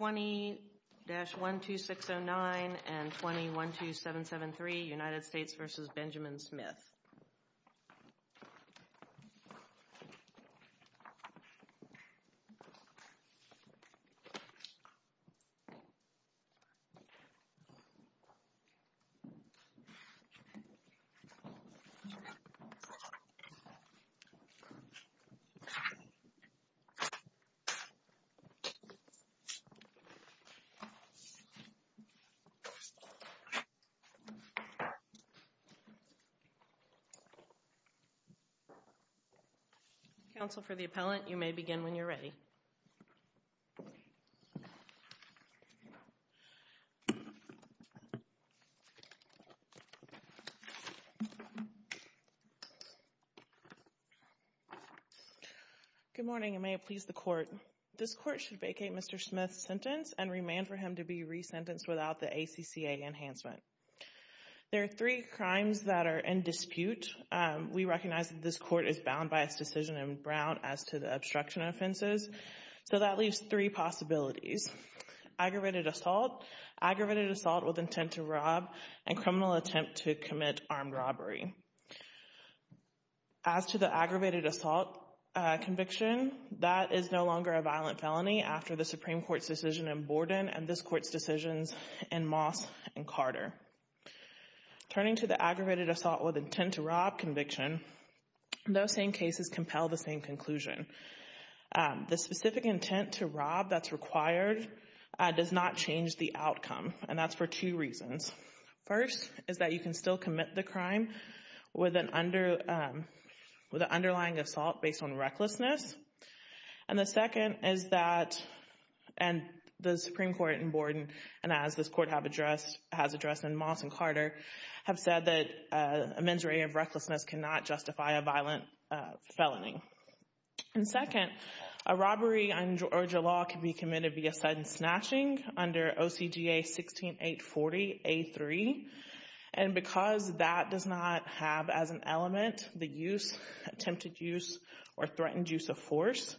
20-12609 and 20-12773 United States v. Benjamin Smith Council for the appellant you may begin when you're ready. Good morning and may it please the court. This court should vacate Mr. Smith's sentence and remand for him to be re-sentenced without the ACCA enhancement. There are three crimes that are in dispute. We recognize that this court is bound by its decision in Brown as to the obstruction offenses. So that leaves three possibilities. Aggravated assault, aggravated assault with intent to rob, and criminal attempt to commit armed robbery. As to the aggravated assault conviction, that is no longer a violent felony after the Supreme Court's decision in Borden and this court's decisions in Moss and Carter. Turning to the aggravated assault with intent to rob conviction, those same cases compel the same conclusion. The specific intent to rob that's required does not change the outcome and that's for two reasons. First is that you can still commit the crime with an underlying assault based on recklessness. And the second is that, and the Supreme Court in Borden and as this court has addressed in Moss and Carter, have said that a mens rea of recklessness cannot justify a violent felony. And second, a robbery under Georgia law can be committed via sudden snatching under OCGA 16840A3. And because that does not have as an element the use, attempted use, or threatened use of force,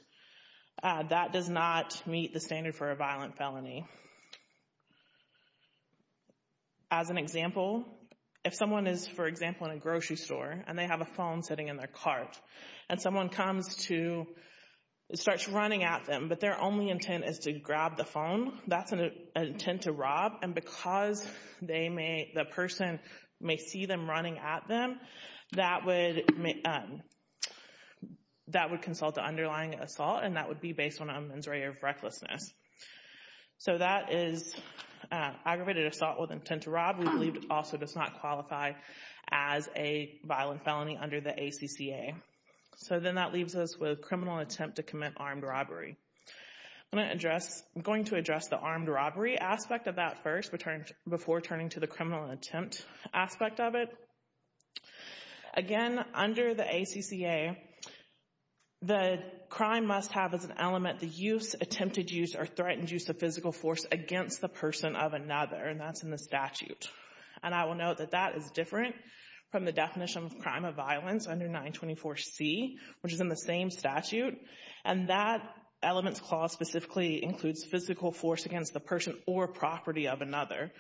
that does not meet the standard for a violent felony. As an example, if someone is, for example, in a grocery store and they have a phone sitting in their cart and someone comes to, starts running at them, but their only intent is to grab the phone, that's an intent to rob. And because they may, the person may see them running at them, that would, that would consult the underlying assault and that would be based on a mens rea of recklessness. So that is aggravated assault with intent to rob, we believe also does not qualify as a violent felony under the ACCA. So then that leaves us with criminal attempt to commit armed robbery. I'm going to address, I'm going to address the armed robbery aspect of that first, before turning to the criminal attempt aspect of it. Again, under the ACCA, the crime must have as an element the use, attempted use, or threatened use of physical force against the person of another, and that's in the statute. And I will note that that is different from the definition of crime of violence under 924C, which is in the same statute. And that elements clause specifically includes physical force against the person or property of another,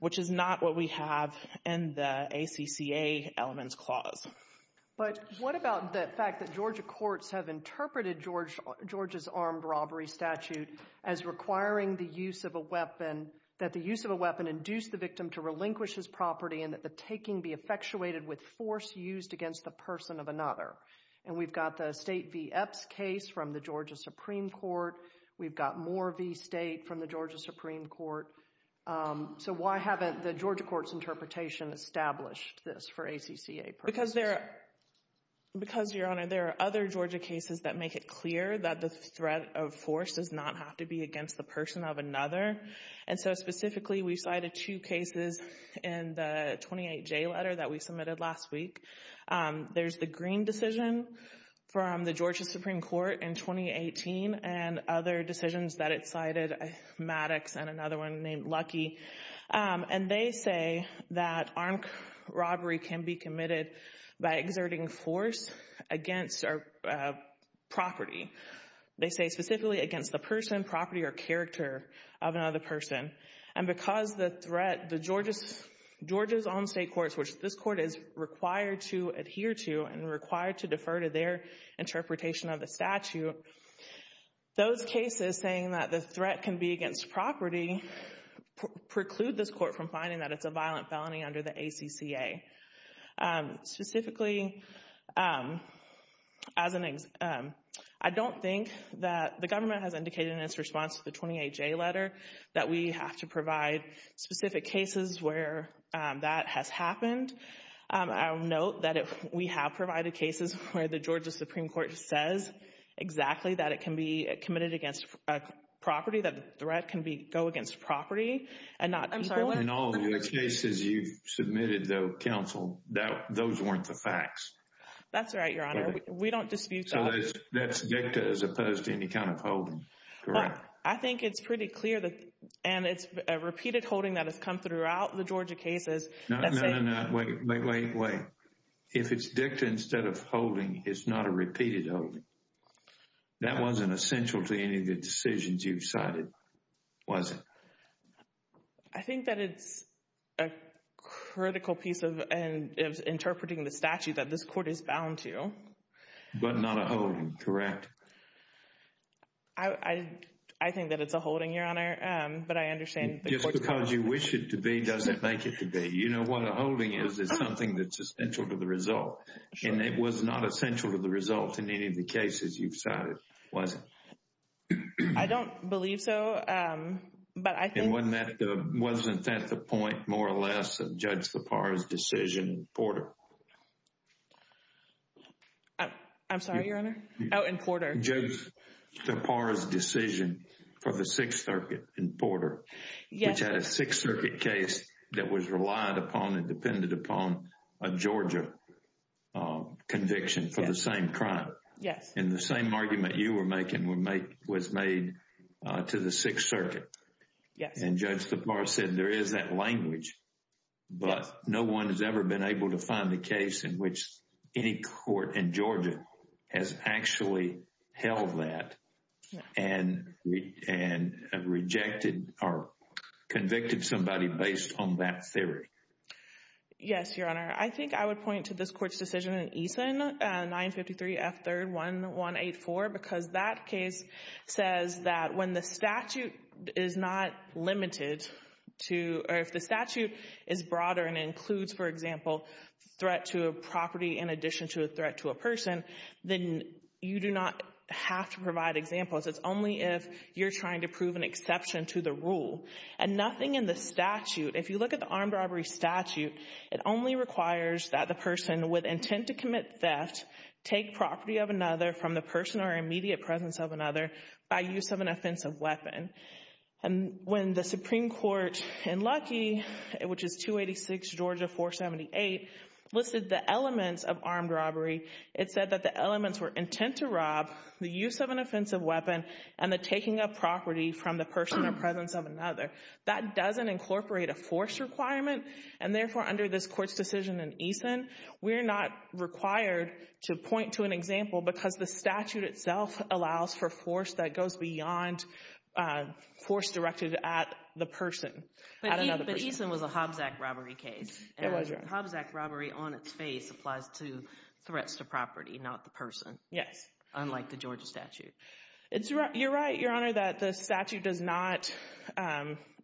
which is not what we have in the ACCA elements clause. But what about the fact that Georgia courts have interpreted Georgia's armed robbery statute as requiring the use of a weapon, that the use of a weapon induced the victim to relinquish his property and that the taking be effectuated with force used against the person of another. And we've got the State v. Epps case from the Georgia Supreme Court. We've got more v. State from the Georgia Supreme Court. So why haven't the Georgia courts interpretation established this for ACCA purposes? Because there, because Your Honor, there are other Georgia cases that make it clear that the threat of force does not have to be against the person of another. And so specifically, we cited two cases in the 28J letter that we submitted last week. There's the Green decision from the Georgia Supreme Court in 2018 and other decisions that it cited, Maddox and another one named Lucky. And they say that armed robbery can be committed by exerting force against property. They say specifically against the person, property, or character of another person. And because the threat, the Georgia's own state courts, which this court is required to adhere to and required to defer to their interpretation of the statute, those cases saying that the threat can be against property preclude this court from finding that it's a violent felony under the ACCA. Specifically, I don't think that the government has indicated in its response to the 28J letter that we have to provide specific cases where that has happened. I'll note that we have provided cases where the Georgia Supreme Court says exactly that it can be committed against property, that the threat can go against property and not people. In all the cases you've submitted, though, counsel, those weren't the facts. That's right, Your Honor. We don't dispute those. So that's dicta as opposed to any kind of holding, correct? I think it's pretty clear that, and it's a repeated holding that has come throughout the Georgia cases. No, no, no, no, wait, wait, wait, wait. If it's dicta instead of holding, it's not a repeated holding. That wasn't essential to any of the decisions you've cited, was it? I think that it's a critical piece of interpreting the statute that this court is bound to. But not a holding, correct? I think that it's a holding, Your Honor, but I understand the court's position. Just because you wish it to be doesn't make it to be. You know what a holding is, it's something that's essential to the result. And it was not essential to the result in any of the cases you've cited, was it? I don't believe so, but I think... Wasn't that the point, more or less, of Judge Zipar's decision in Porter? I'm sorry, Your Honor? Oh, in Porter. Judge Zipar's decision for the Sixth Circuit in Porter, which had a Sixth Circuit case that was relied upon and depended upon a Georgia conviction for the same crime. And the same argument you were making was made to the Sixth Circuit. And Judge Zipar said there is that language, but no one has ever been able to find a case in which any court in Georgia has actually held that and rejected or convicted somebody based on that theory. Yes, Your Honor. I think I would point to this court's decision in Eason, 953 F. 3rd. 1184, because that case says that when the statute is not limited to, or if the statute is broader and includes, for example, threat to a property in addition to a threat to a person, then you do not have to provide examples. It's only if you're trying to prove an exception to the rule. And nothing in the statute, if you look at the armed robbery statute, it only requires that the person with intent to commit theft take property of another from the person or immediate presence of another by use of an offensive weapon. When the Supreme Court in Luckey, which is 286 Georgia 478, listed the elements of armed robbery, it said that the elements were intent to rob, the use of an offensive weapon, and the taking of property from the person or presence of another. That doesn't incorporate a force requirement, and therefore under this court's decision in Eason we're not required to point to an example because the statute itself allows for force that goes beyond force directed at the person, at another person. But Eason was a Hobbs Act robbery case. It was. Hobbs Act robbery on its face applies to threats to property, not the person. Yes. Unlike the Georgia statute. You're right, Your Honor, that the statute does not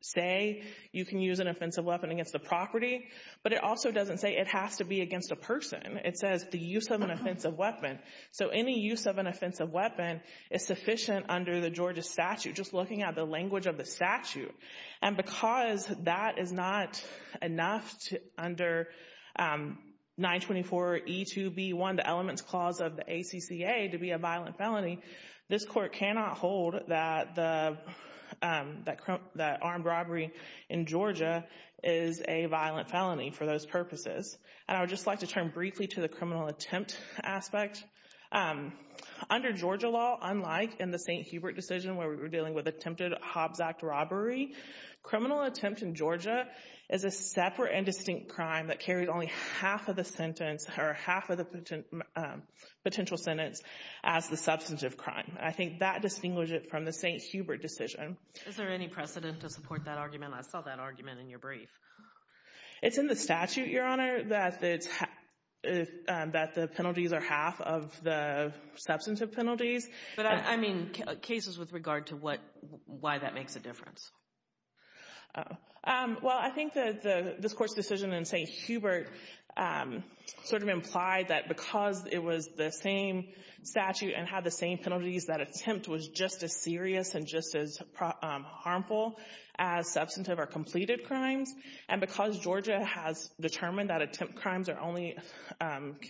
say you can use an offensive weapon against a property, but it also doesn't say it has to be against a person. It says the use of an offensive weapon. So any use of an offensive weapon is sufficient under the Georgia statute, just looking at the language of the statute. And because that is not enough under 924E2B1, the elements clause of the ACCA, to be a violent felony, this court cannot hold that armed robbery in Georgia is a violent felony for those purposes. And I would just like to turn briefly to the criminal attempt aspect. Under Georgia law, unlike in the St. Hubert decision where we were dealing with attempted Hobbs Act robbery, criminal attempt in Georgia is a separate and distinct crime that carries only half of the sentence or half of the potential sentence as the substantive crime. I think that distinguishes it from the St. Hubert decision. Is there any precedent to support that argument? I saw that argument in your brief. It's in the statute, Your Honor, that the penalties are half of the substantive penalties. But I mean cases with regard to why that makes a difference. Well, I think that this Court's decision in St. Hubert sort of implied that because it was the same statute and had the same penalties, that attempt was just as serious and just as harmful as substantive or completed crimes. And because Georgia has determined that attempt crimes can only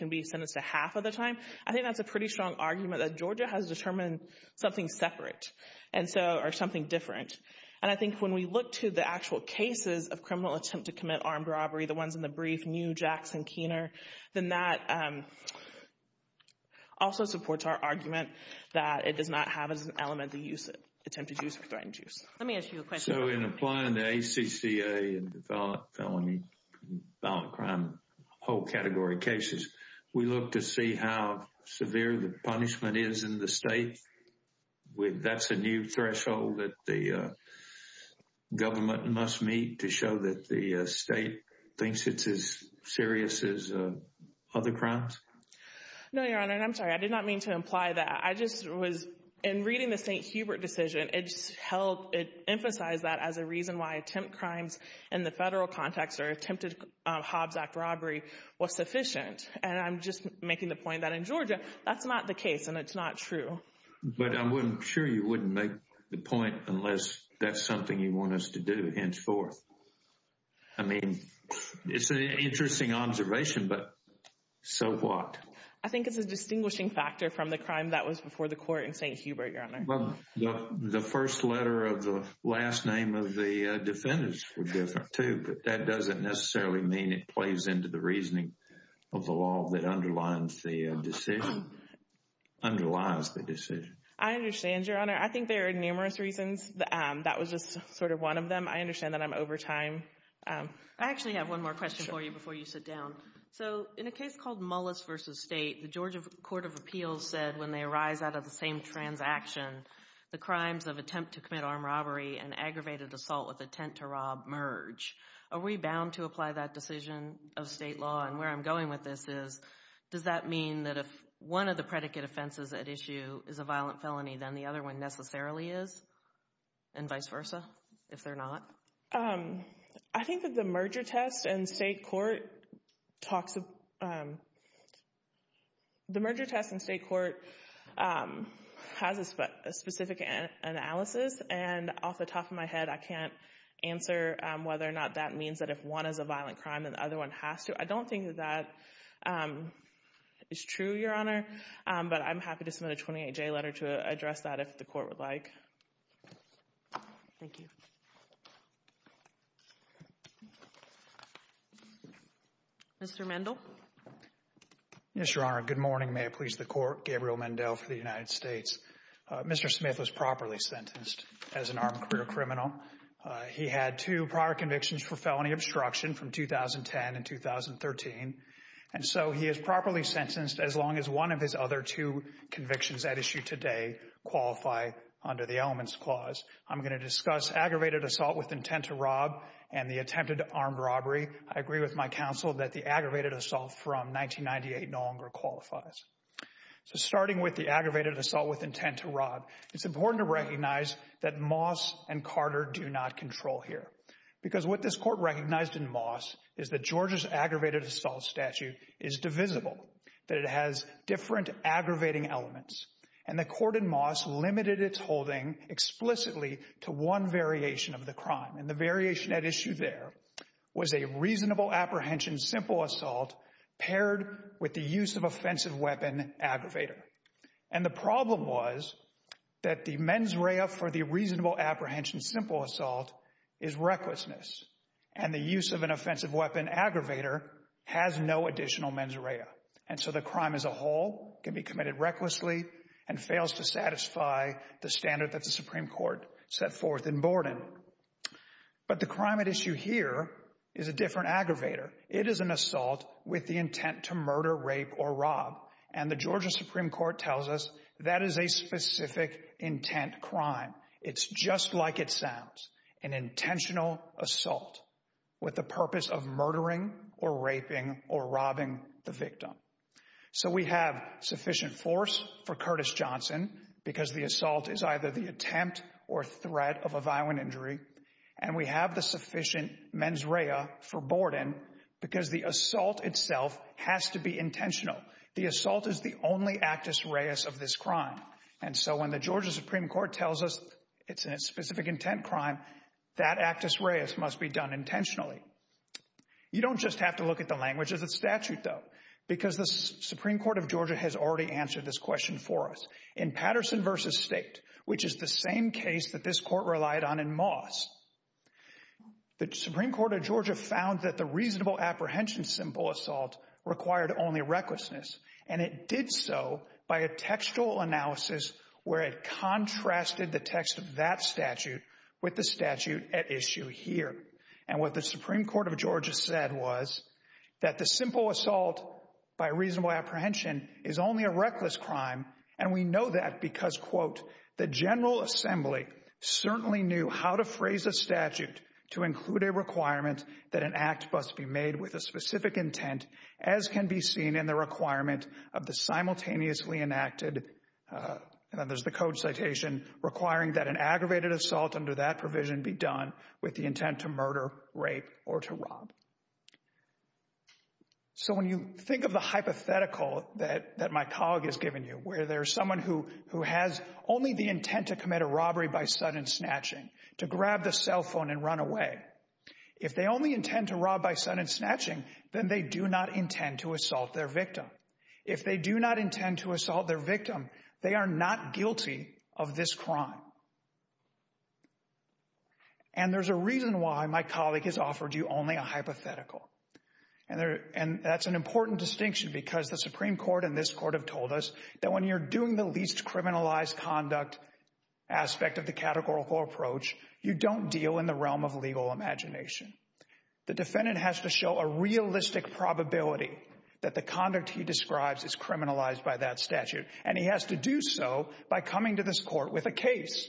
be sentenced to half of the time, I think that's a pretty strong argument that Georgia has determined something separate or something different. And I think when we look to the actual cases of criminal attempt to commit armed robbery, the ones in the brief, New, Jackson, Keener, then that also supports our argument that it does not have as an element the use of attempted use or threatened use. Let me ask you a question. So in applying the ACCA and the violent crime whole category cases, we look to see how severe the punishment is in the state. That's a new threshold that the government must meet to show that the state thinks it's as serious as other crimes? No, Your Honor, and I'm sorry, I did not mean to imply that. I just was, in reading the St. Hubert decision, it just held, it emphasized that as a reason why attempt crimes in the federal context or attempted Hobbs Act robbery was sufficient. And I'm just making the point that in Georgia, that's not the case and it's not true. But I'm sure you wouldn't make the point unless that's something you want us to do henceforth. I mean, it's an interesting observation, but so what? I think it's a distinguishing factor from the crime that was before the court in St. Hubert, Your Honor. Well, the first letter of the last name of the defendants were different too, but that doesn't necessarily mean it plays into the reasoning of the law that underlies the decision. I understand, Your Honor. I think there are numerous reasons. That was just sort of one of them. I understand that I'm over time. I actually have one more question for you before you sit down. So in a case called Mullis v. State, the Georgia Court of Appeals said when they arise out of the same transaction, the crimes of attempt to commit armed robbery and aggravated assault with intent to rob merge. Are we bound to apply that decision of state law? And where I'm going with this is, does that mean that if one of the predicate offenses at issue is a violent felony, then the other one necessarily is and vice versa if they're not? I think that the merger test in state court has a specific analysis. And off the top of my head, I can't answer whether or not that means that if one is a violent crime, then the other one has to. I don't think that that is true, Your Honor. But I'm happy to submit a 28-J letter to address that if the court would like. Thank you. Mr. Mendel. Yes, Your Honor. Good morning. May it please the Court. Gabriel Mendel for the United States. Mr. Smith was properly sentenced as an armed career criminal. He had two prior convictions for felony obstruction from 2010 and 2013. And so he is properly sentenced as long as one of his other two convictions at issue today qualify under the elements clause. I'm going to discuss aggravated assault with intent to rob and the attempted armed robbery. I agree with my counsel that the aggravated assault from 1998 no longer qualifies. So starting with the aggravated assault with intent to rob, it's important to recognize that Moss and Carter do not control here. Because what this court recognized in Moss is that Georgia's aggravated assault statute is divisible. That it has different aggravating elements. And the court in Moss limited its holding explicitly to one variation of the crime. And the variation at issue there was a reasonable apprehension simple assault paired with the use of offensive weapon aggravator. And the problem was that the mens rea for the reasonable apprehension simple assault is recklessness. And the use of an offensive weapon aggravator has no additional mens rea. And so the crime as a whole can be committed recklessly and fails to satisfy the standard that the Supreme Court set forth in Borden. But the crime at issue here is a different aggravator. It is an assault with the intent to murder, rape, or rob. And the Georgia Supreme Court tells us that is a specific intent crime. It's just like it sounds. An intentional assault with the purpose of murdering or raping or robbing the victim. So we have sufficient force for Curtis Johnson because the assault is either the attempt or threat of a violent injury. And we have the sufficient mens rea for Borden because the assault itself has to be intentional. The assault is the only actus reus of this crime. And so when the Georgia Supreme Court tells us it's a specific intent crime, that actus reus must be done intentionally. You don't just have to look at the language of the statute, though, because the Supreme Court of Georgia has already answered this question for us. In Patterson v. State, which is the same case that this court relied on in Moss, the Supreme Court of Georgia found that the reasonable apprehension simple assault required only recklessness. And it did so by a textual analysis where it contrasted the text of that statute with the statute at issue here. And what the Supreme Court of Georgia said was that the simple assault by reasonable apprehension is only a reckless crime. And we know that because, quote, the General Assembly certainly knew how to phrase a statute to include a requirement that an act must be made with a specific intent, as can be seen in the requirement of the simultaneously enacted. There's the code citation requiring that an aggravated assault under that provision be done with the intent to murder, rape or to rob. So when you think of the hypothetical that my colleague has given you, where there's someone who has only the intent to commit a robbery by sudden snatching, to grab the cell phone and run away, if they only intend to rob by sudden snatching, then they do not intend to assault their victim. If they do not intend to assault their victim, they are not guilty of this crime. And there's a reason why my colleague has offered you only a hypothetical. And that's an important distinction because the Supreme Court and this court have told us that when you're doing the least criminalized conduct aspect of the categorical approach, you don't deal in the realm of legal imagination. The defendant has to show a realistic probability that the conduct he describes is criminalized by that statute. And he has to do so by coming to this court with a case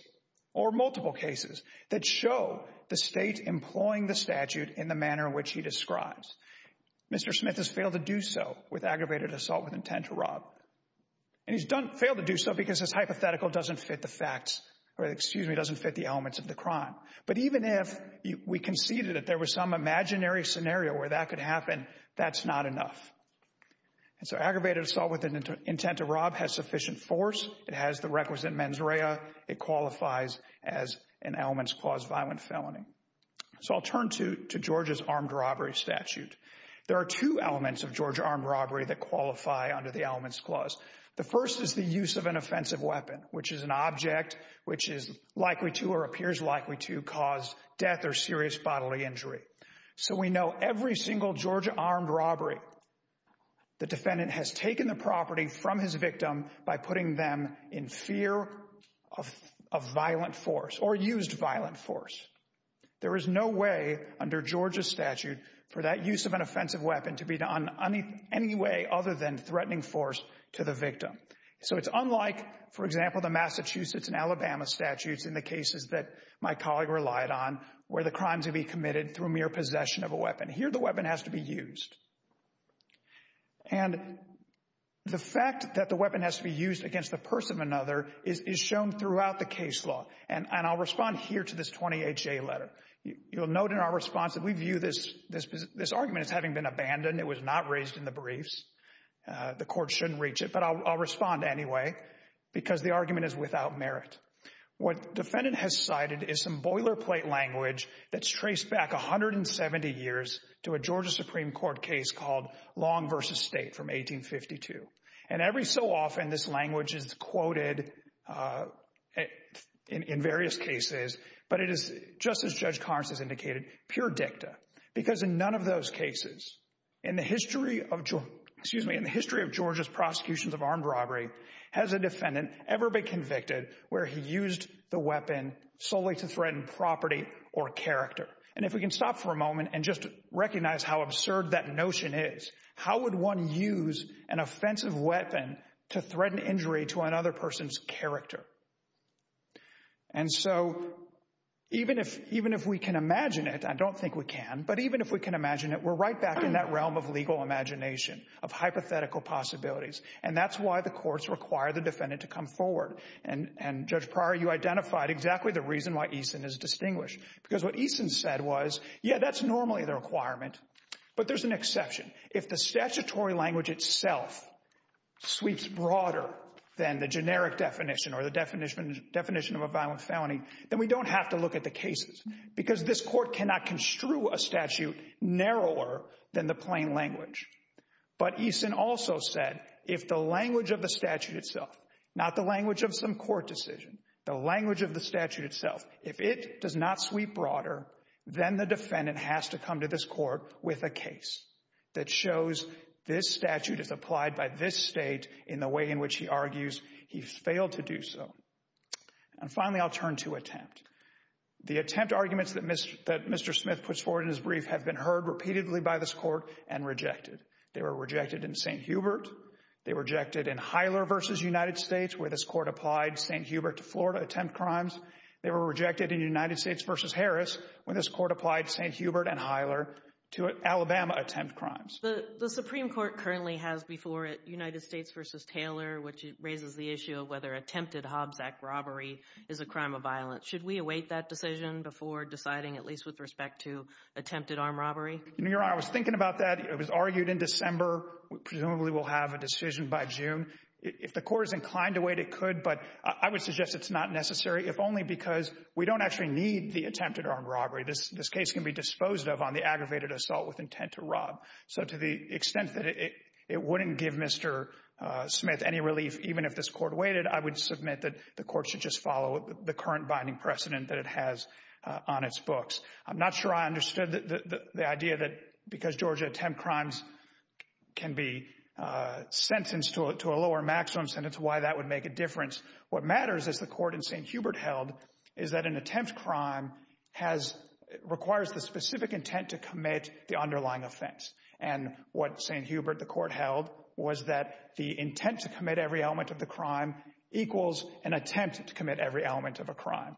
or multiple cases that show the state employing the statute in the manner in which he describes. Mr. Smith has failed to do so with aggravated assault with intent to rob. And he's failed to do so because his hypothetical doesn't fit the facts or, excuse me, doesn't fit the elements of the crime. But even if we conceded that there was some imaginary scenario where that could happen, that's not enough. And so aggravated assault with an intent to rob has sufficient force. It has the requisite mens rea. It qualifies as an elements-clause violent felony. So I'll turn to Georgia's armed robbery statute. There are two elements of Georgia armed robbery that qualify under the elements clause. The first is the use of an offensive weapon, which is an object which is likely to or appears likely to cause death or serious bodily injury. So we know every single Georgia armed robbery, the defendant has taken the property from his victim by putting them in fear of violent force or used violent force. There is no way under Georgia's statute for that use of an offensive weapon to be done any way other than threatening force to the victim. So it's unlike, for example, the Massachusetts and Alabama statutes in the cases that my colleague relied on where the crimes would be committed through mere possession of a weapon. Here the weapon has to be used. And the fact that the weapon has to be used against the person of another is shown throughout the case law. And I'll respond here to this 20HA letter. You'll note in our response that we view this argument as having been abandoned. It was not raised in the briefs. The court shouldn't reach it. But I'll respond anyway, because the argument is without merit. What defendant has cited is some boilerplate language that's traced back 170 years to a Georgia Supreme Court case called Long v. State from 1852. And every so often this language is quoted in various cases. But it is, just as Judge Carnes has indicated, pure dicta. Because in none of those cases in the history of Georgia's prosecutions of armed robbery has a defendant ever been convicted where he used the weapon solely to threaten property or character. And if we can stop for a moment and just recognize how absurd that notion is, how would one use an offensive weapon to threaten injury to another person's character? And so even if we can imagine it, I don't think we can, but even if we can imagine it, we're right back in that realm of legal imagination, of hypothetical possibilities. And that's why the courts require the defendant to come forward. And, Judge Pryor, you identified exactly the reason why Eason is distinguished. Because what Eason said was, yeah, that's normally the requirement, but there's an exception. If the statutory language itself sweeps broader than the generic definition or the definition of a violent felony, then we don't have to look at the cases. Because this court cannot construe a statute narrower than the plain language. But Eason also said, if the language of the statute itself, not the language of some court decision, the language of the statute itself, if it does not sweep broader, then the defendant has to come to this court with a case that shows this statute is applied by this state in the way in which he argues he failed to do so. And finally, I'll turn to attempt. The attempt arguments that Mr. Smith puts forward in his brief have been heard repeatedly by this court and rejected. They were rejected in St. Hubert. They were rejected in Hyler v. United States, where this court applied St. Hubert to Florida attempt crimes. They were rejected in United States v. Harris, where this court applied St. Hubert and Hyler to Alabama attempt crimes. The Supreme Court currently has before it United States v. Taylor, which raises the issue of whether attempted Hobbs Act robbery is a crime of violence. Should we await that decision before deciding, at least with respect to attempted armed robbery? Your Honor, I was thinking about that. It was argued in December. Presumably we'll have a decision by June. If the court is inclined to wait, it could. But I would suggest it's not necessary, if only because we don't actually need the attempted armed robbery. This case can be disposed of on the aggravated assault with intent to rob. So to the extent that it wouldn't give Mr. Smith any relief, even if this court waited, I would submit that the court should just follow the current binding precedent that it has on its books. I'm not sure I understood the idea that because Georgia attempt crimes can be sentenced to a lower maximum sentence, why that would make a difference. What matters, as the court in St. Hubert held, is that an attempt crime requires the specific intent to commit the underlying offense. And what St. Hubert, the court held, was that the intent to commit every element of the crime equals an attempt to commit every element of a crime.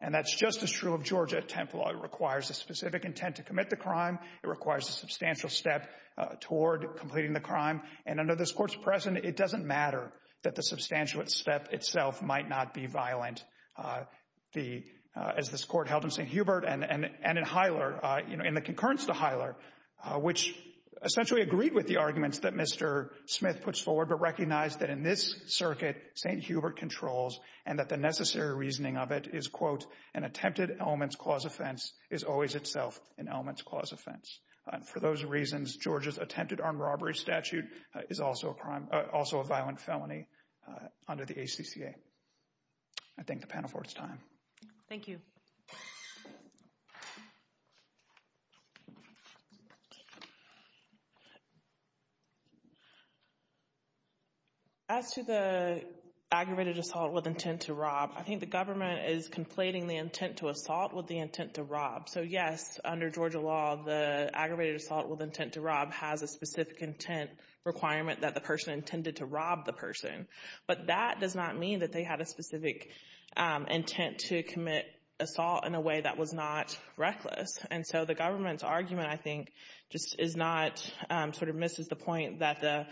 And that's just as true of Georgia attempt law. It requires a specific intent to commit the crime. And under this court's precedent, it doesn't matter that the substantiate step itself might not be violent. As this court held in St. Hubert and in Hiler, in the concurrence to Hiler, which essentially agreed with the arguments that Mr. Smith puts forward, but recognized that in this circuit, St. Hubert controls and that the necessary reasoning of it is, quote, an attempted elements clause offense is always itself an elements clause offense. For those reasons, Georgia's attempted armed robbery statute is also a violent felony under the ACCA. I thank the panel for its time. Thank you. As to the aggravated assault with intent to rob, I think the government is conflating the intent to assault with the intent to rob. So, yes, under Georgia law, the aggravated assault with intent to rob has a specific intent requirement that the person intended to rob the person. But that does not mean that they had a specific intent to commit assault in a way that was not reckless. And so the government's argument, I think, just is not, sort of misses the point that the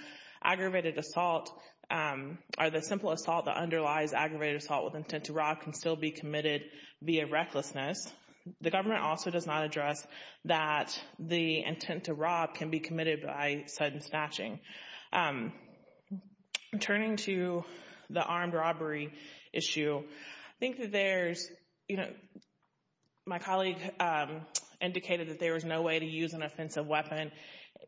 aggravated assault, or the simple assault that underlies aggravated assault with intent to rob can still be committed via recklessness. The government also does not address that the intent to rob can be committed by sudden snatching. Turning to the armed robbery issue, I think that there's, you know, my colleague indicated that there is no way to use an offensive weapon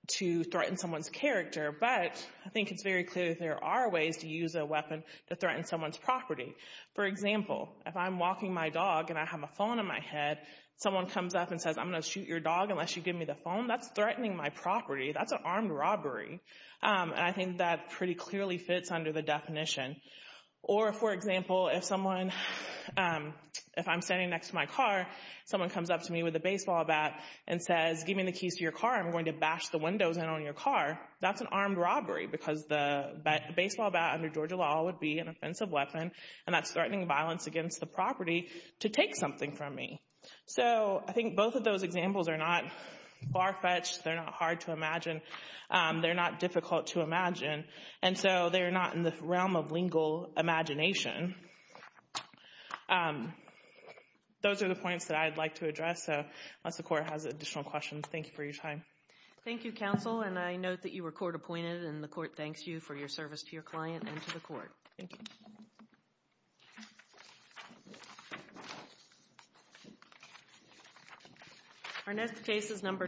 to threaten someone's character. But I think it's very clear that there are ways to use a weapon to threaten someone's property. For example, if I'm walking my dog and I have a phone in my head, someone comes up and says, I'm going to shoot your dog unless you give me the phone. That's threatening my property. That's an armed robbery. And I think that pretty clearly fits under the definition. Or, for example, if someone, if I'm standing next to my car, someone comes up to me with a baseball bat and says, give me the keys to your car. I'm going to bash the windows in on your car. That's an armed robbery because the baseball bat under Georgia law would be an offensive weapon. And that's threatening violence against the property to take something from me. So I think both of those examples are not far-fetched. They're not hard to imagine. They're not difficult to imagine. And so they're not in the realm of lingual imagination. Those are the points that I'd like to address. So unless the Court has additional questions, thank you for your time. Thank you, Counsel. And I note that you were court-appointed, and the Court thanks you for your service to your client and to the Court. Thank you.